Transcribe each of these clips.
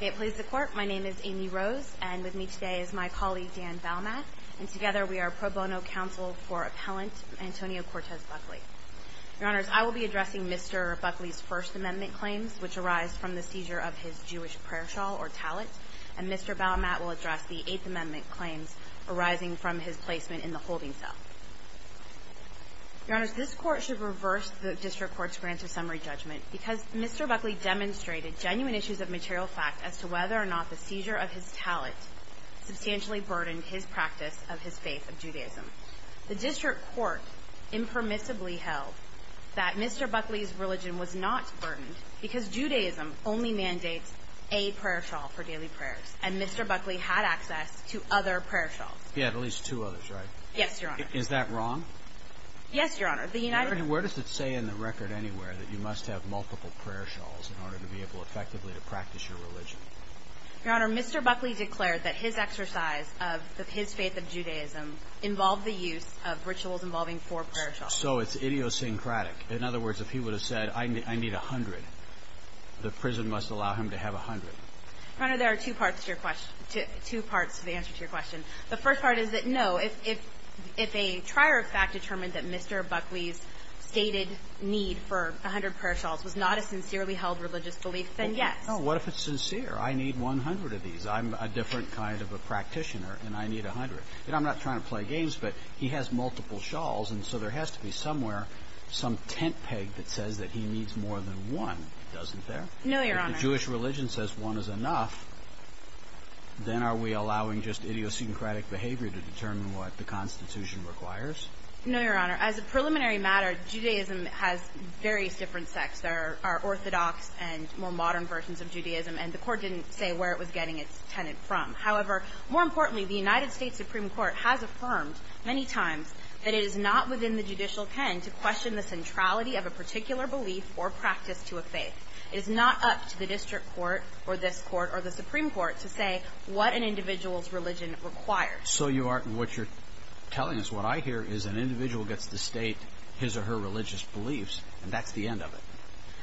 It pleases the Court, my name is Amy Rose and with me today is my colleague Dan Baumat and together we are pro bono counsel for appellant Antonio Cortez Buckley. Your Honors, I will be addressing Mr. Buckley's First Amendment claims which arise from the seizure of his Jewish prayer shawl or tallit and Mr. Baumat will address the Eighth Amendment claims arising from his placement in the holding cell. Your Honors, this Court should reverse the District Court's grant of summary judgment because Mr. Buckley demonstrated genuine issues of material fact as to whether or not the seizure of his tallit substantially burdened his practice of his faith of Judaism. The District Court impermissibly held that Mr. Buckley's religion was not burdened because Judaism only mandates a prayer shawl for daily prayers and Mr. Buckley had access to other prayer shawls. Roberts. He had at least two others, right? Presley. Yes, Your Honor. Roberts. Is that wrong? Presley. Yes, Your Honor. The United States of America… Roberts.… has never declared anywhere that you must have multiple prayer shawls in order to be able effectively to practice your religion. Presley. Your Honor, Mr. Buckley declared that his exercise of his faith of Judaism involved the use of rituals involving four prayer shawls. Roberts. So it's idiosyncratic. In other words, if he would have said, I need a hundred, the prison must allow him to have a hundred. Presley. Your Honor, there are two parts to your question… two parts to the answer to your question. The first part is that, no, if a trier of fact determined that Mr. Buckley's stated need for a hundred prayer shawls was not a sincerely held religious belief, then yes. Roberts. Well, what if it's sincere? I need one hundred of these. I'm a different kind of a practitioner and I need a hundred. I'm not trying to play games, but he has multiple shawls and so there has to be somewhere, some tent peg that says that he needs more than one, doesn't there? Presley. No, Your Honor. Roberts. If the Jewish religion says one is enough, then are we allowing just idiosyncratic behavior to determine what the Constitution requires? Presley. No, Your Honor. As a preliminary matter, Judaism has various different sects. There are orthodox and more modern versions of Judaism and the Court didn't say where it was getting its tenet from. However, more importantly, the United States Supreme Court has affirmed many times that it is not within the judicial ken to question the centrality of a particular belief or practice to a faith. It is not up to the district court or this court or the Supreme Court to say what an individual's religion requires. Roberts. So you are – what you're telling us, what I hear, is an individual gets to state his or her religious beliefs and that's the end of it.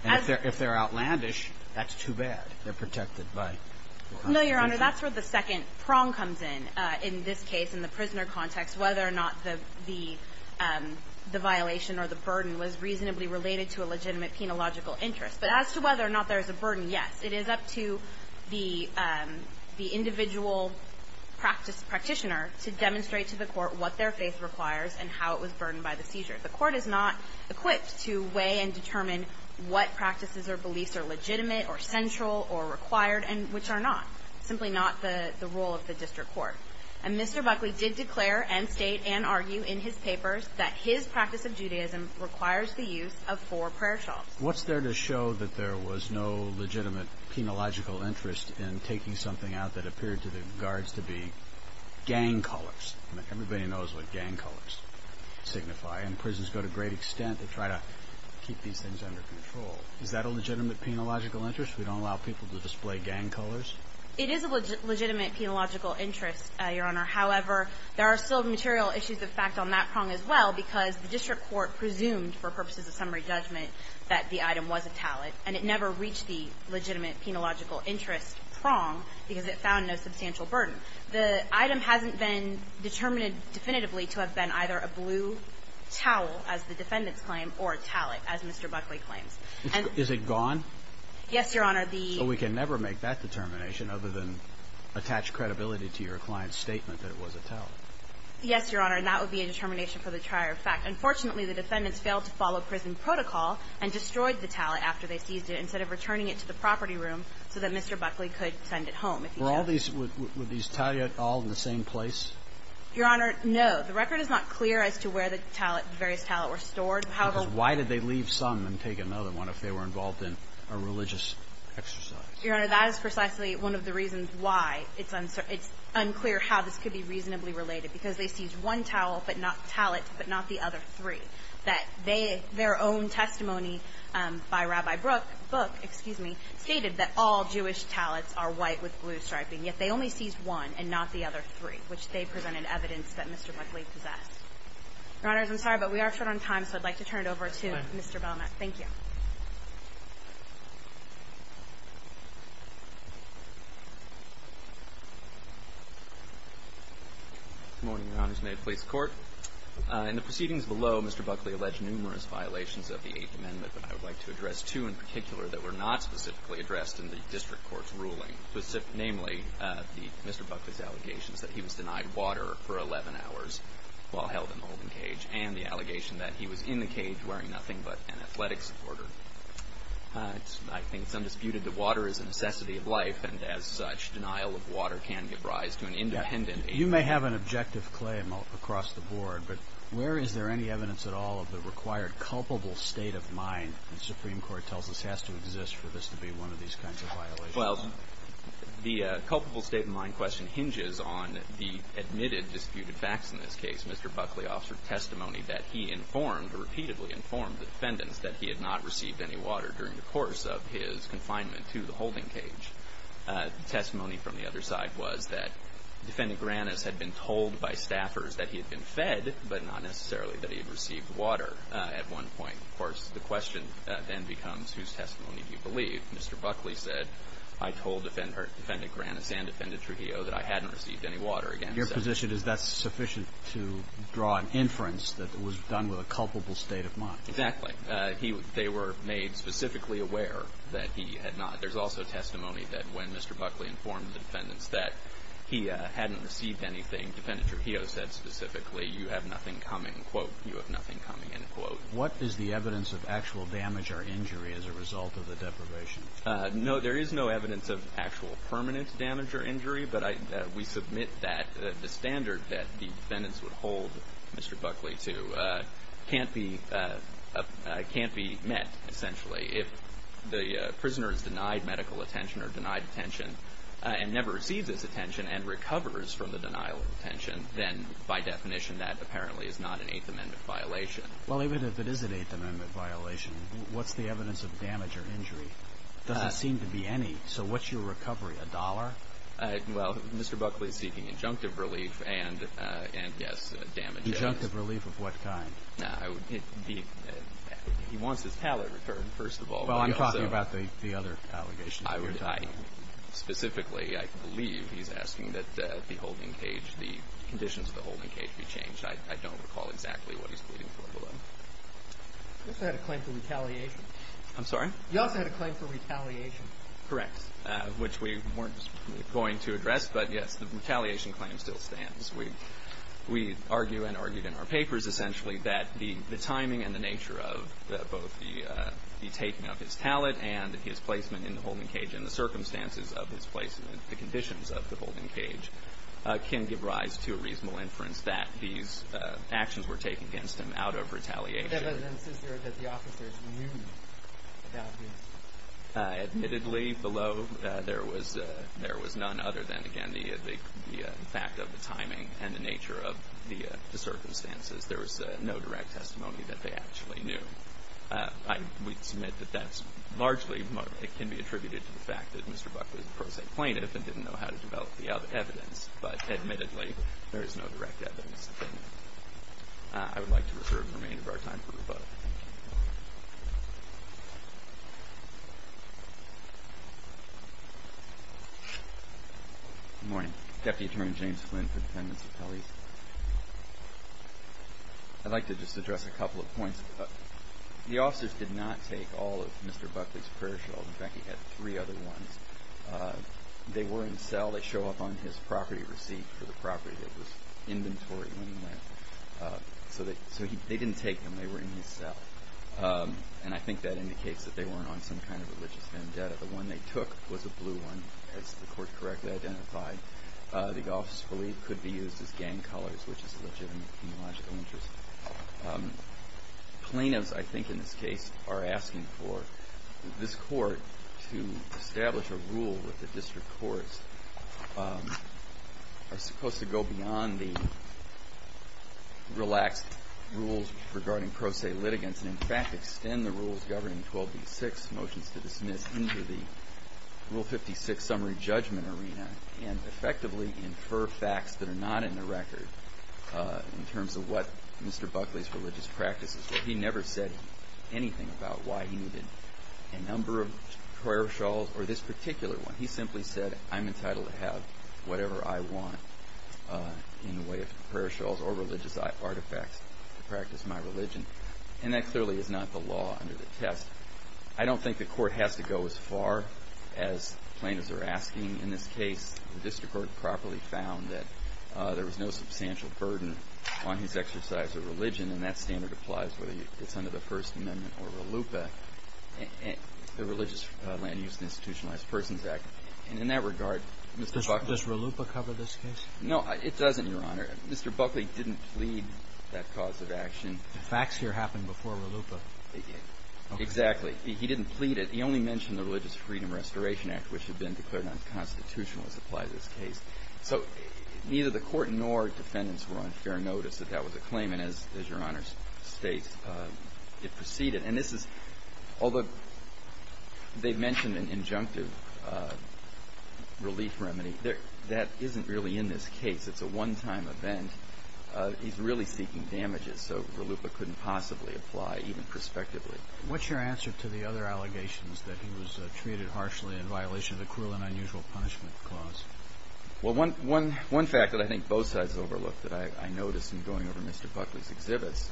And if they're outlandish, that's too bad. They're protected by the Constitution. Presley. No, Your Honor. That's where the second prong comes in, in this case, in the prisoner context, whether or not the violation or the burden was reasonably related to a legitimate penological interest. But as to whether or not there is a burden, yes. It is up to the individual practice – practitioner to demonstrate to the court what their faith requires and how it was burdened by the seizure. The court is not equipped to weigh and determine what practices or beliefs are legitimate or central or required and which are not, simply not the role of the district court. And Mr. Buckley did declare and state and argue in his papers that his practice of Judaism requires the use of four prayer shawls. What's there to show that there was no legitimate penological interest in taking something out that appeared to the guards to be gang colors? I mean, everybody knows what gang colors signify, and prisons go to a great extent to try to keep these things under control. Is that a legitimate penological interest? We don't allow people to display gang colors? It is a legitimate penological interest, Your Honor. However, there are still material issues of fact on that prong as well because the district court presumed for purposes of summary judgment that the item was a tallit, and it never reached the legitimate penological interest prong because it found no substantial burden. The item hasn't been determined definitively to have been either a blue towel, as the defendants claim, or a tallit, as Mr. Buckley claims. And… Is it gone? Yes, Your Honor. The… So we can never make that determination other than attach credibility to your client's statement that it was a tallit. Yes, Your Honor. And that would be a determination for the trier of fact. Unfortunately, the defendants failed to follow prison protocol and destroyed the tallit after they seized it, instead of returning it to the property room so that Mr. Buckley could send it home. Were all these… were these tallit all in the same place? Your Honor, no. The record is not clear as to where the tallit… the various tallit were stored. Because why did they leave some and take another one if they were involved in a religious exercise? Your Honor, that is precisely one of the reasons why it's unclear how this could be reasonably related, because they seized one towel, but not tallit, but not the other three. That they… their own testimony by Rabbi Brook… Book, excuse me, stated that all Jewish tallits are white with blue striping, yet they only seized one and not the other three, which they presented evidence that Mr. Buckley possessed. Your Honors, I'm sorry, but we are short on time, so I'd like to turn it over to Mr. Belknap. Thank you. In the proceedings below, Mr. Buckley alleged numerous violations of the Eighth Amendment, but I would like to address two in particular that were not specifically addressed in the district court's ruling, namely Mr. Buckley's allegations that he was denied water for 11 hours while held in the holding cage, and the allegation that he was in the cage wearing nothing but an athletic supporter. I think it's undisputed that water is a necessity of life, and as such, denial of water can give rise to an independent… You may have an objective claim across the board, but where is there any evidence at all of the required culpable state of mind the Supreme Court tells us has to exist for this to be one of these kinds of violations? Well, the culpable state of mind question hinges on the admitted disputed facts in this case. Mr. Buckley offered testimony that he informed, or repeatedly informed, the defendants that he had not received any water during the course of his confinement to the holding cage. The testimony from the other side was that Defendant Granis had been told by staffers that he had been fed, but not necessarily that he had received water at one point. Of course, the question then becomes whose testimony do you believe? Mr. Buckley said, I told Defendant Granis and Defendant Trujillo that I hadn't received any water again. Your position is that's sufficient to draw an inference that it was done with a culpable state of mind. Exactly. He — they were made specifically aware that he had not. There's also testimony that when Mr. Buckley informed the defendants that he hadn't received anything, Defendant Trujillo said specifically, you have nothing coming, quote, you have nothing coming, end quote. What is the evidence of actual damage or injury as a result of the deprivation? No, there is no evidence of actual permanent damage or injury, but I — we submit that the standard that the defendants would hold Mr. Buckley to can't be — can't be met, essentially. If the prisoner is denied medical attention or denied attention and never receives his attention and recovers from the denial of attention, then by definition, that apparently is not an Eighth Amendment violation. Well, even if it is an Eighth Amendment violation, what's the evidence of damage or injury? There doesn't seem to be any. So what's your recovery, a dollar? Well, Mr. Buckley is seeking injunctive relief and, yes, damage is. Injunctive relief of what kind? I would — he wants his pallet returned, first of all. Well, you're talking about the other allegations that you're talking about. Specifically, I believe he's asking that the holding cage — the conditions of the holding cage be changed. I don't recall exactly what he's pleading for below. You also had a claim for retaliation. I'm sorry? You also had a claim for retaliation. Correct, which we weren't going to address. But, yes, the retaliation claim still that the timing and the nature of both the taking of his pallet and his placement in the holding cage and the circumstances of his placement, the conditions of the holding cage, can give rise to a reasonable inference that these actions were taken against him out of retaliation. But that doesn't insist, though, that the officers knew about this. Admittedly, below, there was none other than, again, the fact of the timing and the circumstances, there was no direct testimony that they actually knew. I would submit that that's largely — it can be attributed to the fact that Mr. Buckley, of course, a plaintiff and didn't know how to develop the evidence. But, admittedly, there is no direct evidence. I would like to reserve the remainder of our time for rebuttal. Thank you. Good morning. Deputy Attorney James Flynn for Dependents of Kelly. I'd like to just address a couple of points. The officers did not take all of Mr. Buckley's prayer shawls. In fact, he had three other ones. They were in a cell. They show up on his property receipt for the property that was inventory when he left. So they didn't take them. They were in his cell. And I think that indicates that they weren't on some kind of religious vendetta. The one they took was a blue one, as the Court correctly identified. The officers believe it could be used as gang colors, which is a legitimate theological interest. Plaintiffs, I think, in this case, are asking for this Court to establish a rule that the district courts are supposed to go beyond the relaxed rules regarding pro se litigants and, in fact, extend the rules governing 12B6, motions to dismiss, into the Rule 56 summary judgment arena and effectively infer facts that are not in the record in terms of what Mr. Buckley's religious practice is. But he never said anything about why he needed a number of prayer shawls or this particular one. He simply said, I'm entitled to have whatever I want in the way of prayer shawls or religious artifacts to practice my religion. And that clearly is not the law under the test. I don't think the Court has to go as far as plaintiffs are asking in this case. The district court properly found that there was no substantial burden on his exercise of religion, and that standard applies whether it's under the First Amendment or RLUIPA, the Religious Land Use and Institutionalized Persons Act. And in that regard, Mr. Buckley… Does RLUIPA cover this case? No, it doesn't, Your Honor. Mr. Buckley didn't plead that cause of action. The facts here happened before RLUIPA. Exactly. He didn't plead it. He only mentioned the Religious Freedom Restoration Act, which had been declared unconstitutional as applied to this case. So neither the Court nor defendants were on fair notice that that was a claim. And as Your Honor states, it proceeded. And this is – although they mentioned an injunctive relief remedy, that isn't really in this case. It's a one-time event. He's really seeking damages, so RLUIPA couldn't possibly apply, even prospectively. What's your answer to the other allegations that he was treated harshly in violation of the cruel and unusual punishment clause? Well, one fact that I think both sides overlooked that I noticed in going over Mr. Buckley's exhibits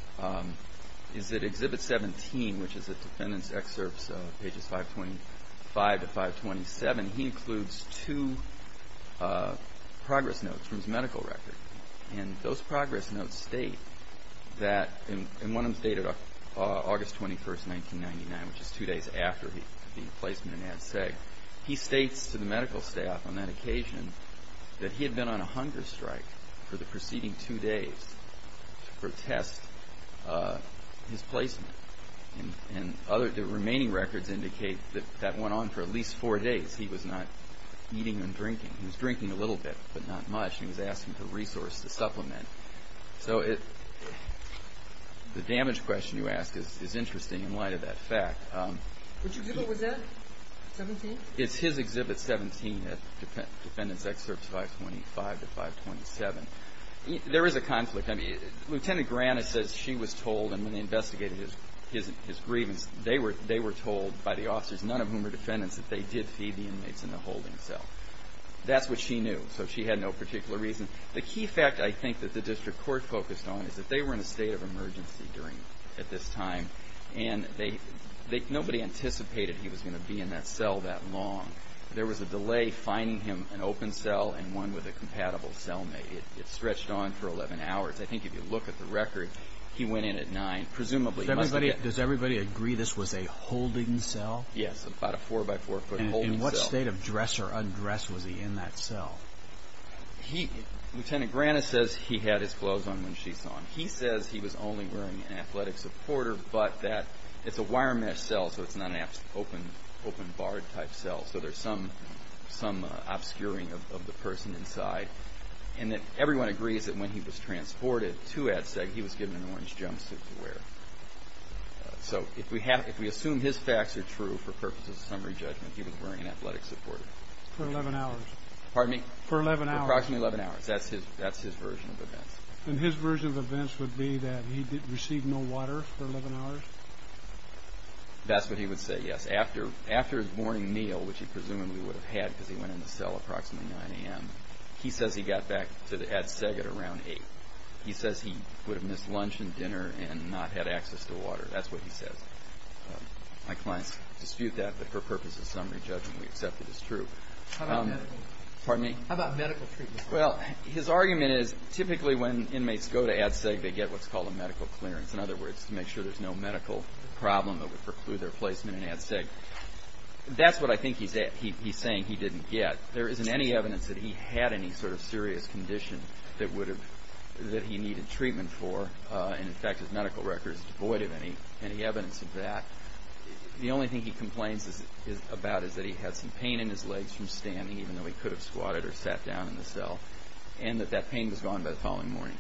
is that Exhibit 17, which is the defendant's excerpts, pages 525 to 527, he includes two progress notes from his medical record. And those progress notes state that – and one of them's dated August 21, 1999, which is two days after the placement in Ad Sec – he states to the medical staff on that occasion that he had been on a hunger strike for the preceding two days to protest his placement. And other – the remaining records indicate that that went on for at least four days. He was not eating and drinking. He was drinking a little bit, but not much. He was asking for resource to supplement. So it – the damage question you ask is interesting in light of that fact. Which exhibit was that, 17? It's his Exhibit 17, the defendant's excerpts, 525 to 527. There is a conflict. I mean, Lieutenant Granis says she was told, and when they investigated his grievance, they were told by the officers, none of whom were defendants, that they did feed the inmates in the holding cell. That's what she knew. So she had no particular reason. The key fact, I think, that the District Court focused on is that they were in a state of emergency during – at this time, and they – nobody anticipated he was going to be in that cell that long. There was a delay finding him an open cell and one with a compatible cellmate. It stretched on for 11 hours. I think if you look at the record, he went in at 9, presumably – Does everybody agree this was a holding cell? Yes, about a four-by-four-foot holding cell. In what state of dress or undress was he in that cell? He – Lieutenant Granis says he had his gloves on when she saw him. He says he was only wearing an athletic supporter, but that it's a wire mesh cell, so it's not an open barred type cell, so there's some obscuring of the person inside. And that everyone agrees that when he was transported to Ad Seg, he was given an orange jumpsuit to wear. So, if we assume his facts are true for purposes of summary judgment, he was wearing an athletic supporter. For 11 hours. Pardon me? For 11 hours. Approximately 11 hours. That's his version of events. And his version of events would be that he received no water for 11 hours? That's what he would say, yes. After his morning meal, which he presumably would have had because he went in the cell approximately 9 a.m., he says he got back to Ad Seg at around 8. He says he would have missed lunch and dinner and not had access to water. That's what he says. My clients dispute that, but for purposes of summary judgment, we accept that it's true. How about medical treatment? Pardon me? How about medical treatment? Well, his argument is typically when inmates go to Ad Seg, they get what's called a medical clearance. In other words, to make sure there's no medical problem that would preclude their placement in Ad Seg. That's what I think he's saying he didn't get. There isn't any evidence that he had any sort of serious condition that he needed treatment for. And, in fact, his medical record is devoid of any evidence of that. The only thing he complains about is that he had some pain in his legs from standing, even though he could have squatted or sat down in the cell, and that that pain was gone by the following morning.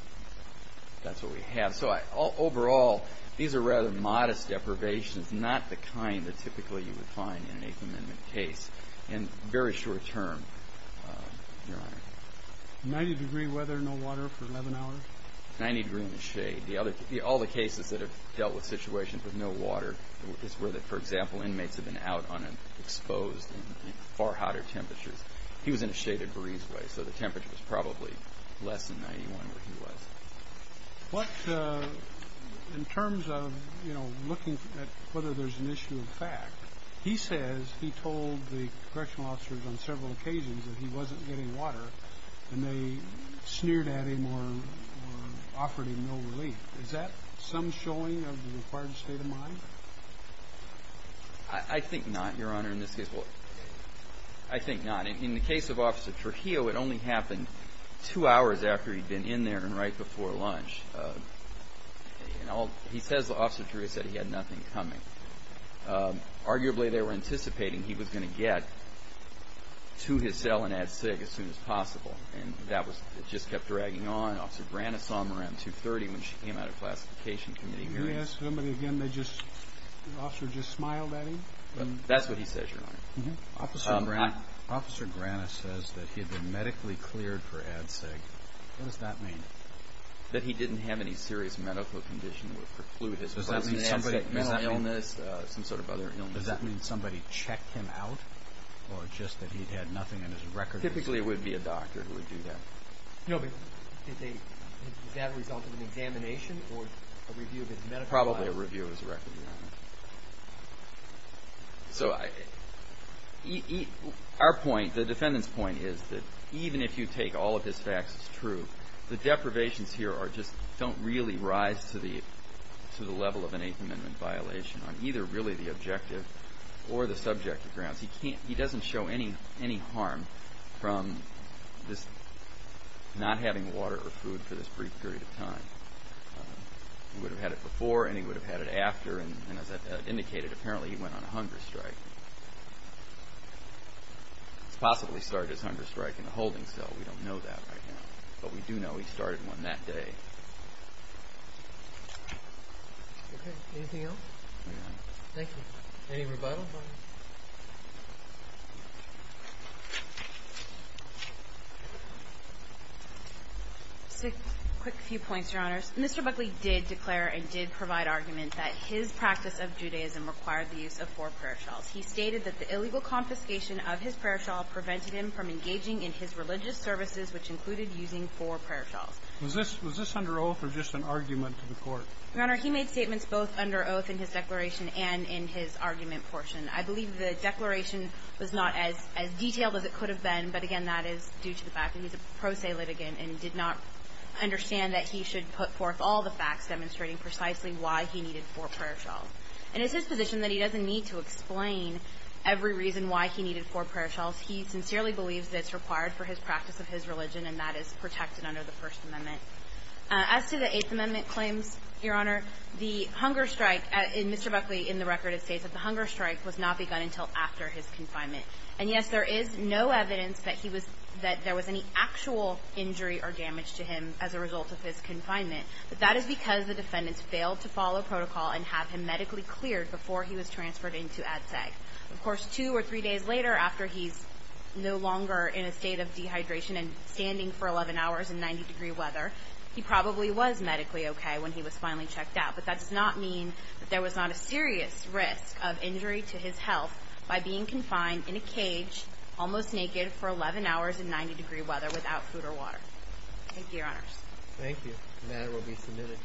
That's what we have. So overall, these are rather modest deprivations, not the kind that typically you would find in an Eighth Amendment case. And very short term, Your Honor. Ninety degree weather, no water for 11 hours? Ninety degree in the shade. All the cases that have dealt with situations with no water is where, for example, inmates have been out on exposed and far hotter temperatures. He was in a shaded breezeway, so the temperature was probably less than 91 where he was. What, in terms of, you know, looking at whether there's an issue of fact, he says he told the correctional officers on several occasions that he wasn't getting water, and they sneered at him or offered him no relief. Is that some showing of the required state of mind? I think not, Your Honor, in this case. I think not. In the case of Officer Trujillo, it only happened two hours after he'd been in there and right before lunch. He says Officer Trujillo said he had nothing coming. Arguably, they were anticipating he was going to get to his cell and add SIG as soon as possible, and that just kept dragging on. Officer Granis saw him around 2.30 when she came out of classification committee hearing. Can we ask somebody again, the officer just smiled at him? That's what he says, Your Honor. Officer Granis says that he had been medically cleared for add SIG. What does that mean? That he didn't have any serious medical condition would preclude his Does that mean somebody checked him out or just that he had nothing in his record? Typically, it would be a doctor who would do that. Is that a result of an examination or a review of his medical file? Probably a review of his record, Your Honor. Our point, the defendant's point, is that even if you take all of his facts as true, the deprivations here just don't really rise to the level of an objective or the subjective grounds. He doesn't show any harm from not having water or food for this brief period of time. He would have had it before and he would have had it after, and as that indicated, apparently he went on a hunger strike. It's possible he started his hunger strike in the holding cell. We don't know that right now. But we do know he started one that day. Anything else? Thank you. Any rebuttals? Just a quick few points, Your Honors. Mr. Buckley did declare and did provide argument that his practice of Judaism required the use of four prayer shawls. He stated that the illegal confiscation of his prayer shawl prevented him from engaging in his religious services, which included using four prayer shawls. Was this under oath or just an argument to the court? Your Honor, he made statements both under oath in his declaration and in his argument portion. I believe the declaration was not as detailed as it could have been, but again, that is due to the fact that he's a pro se litigant and did not understand that he should put forth all the facts demonstrating precisely why he needed four prayer shawls. And it's his position that he doesn't need to explain every reason why he needed four prayer shawls. He sincerely believes that it's required for his practice of his religion and that is protected under the First Amendment. As to the Eighth Amendment claims, Your Honor, the hunger strike, and Mr. Buckley in the record, it states that the hunger strike was not begun until after his confinement. And yes, there is no evidence that he was, that there was any actual injury or damage to him as a result of his confinement, but that is because the defendants failed to follow protocol and have him medically cleared before he was transferred into Ad Seg. Of course, two or three days later, after he's no longer in a state of dehydration and standing for 11 hours in 90 degree weather, he probably was medically okay when he was finally checked out. But that does not mean that there was not a serious risk of injury to his health by being confined in a cage, almost naked, for 11 hours in 90 degree weather without food or water. Thank you, Your Honors. Thank you. The matter will be submitted.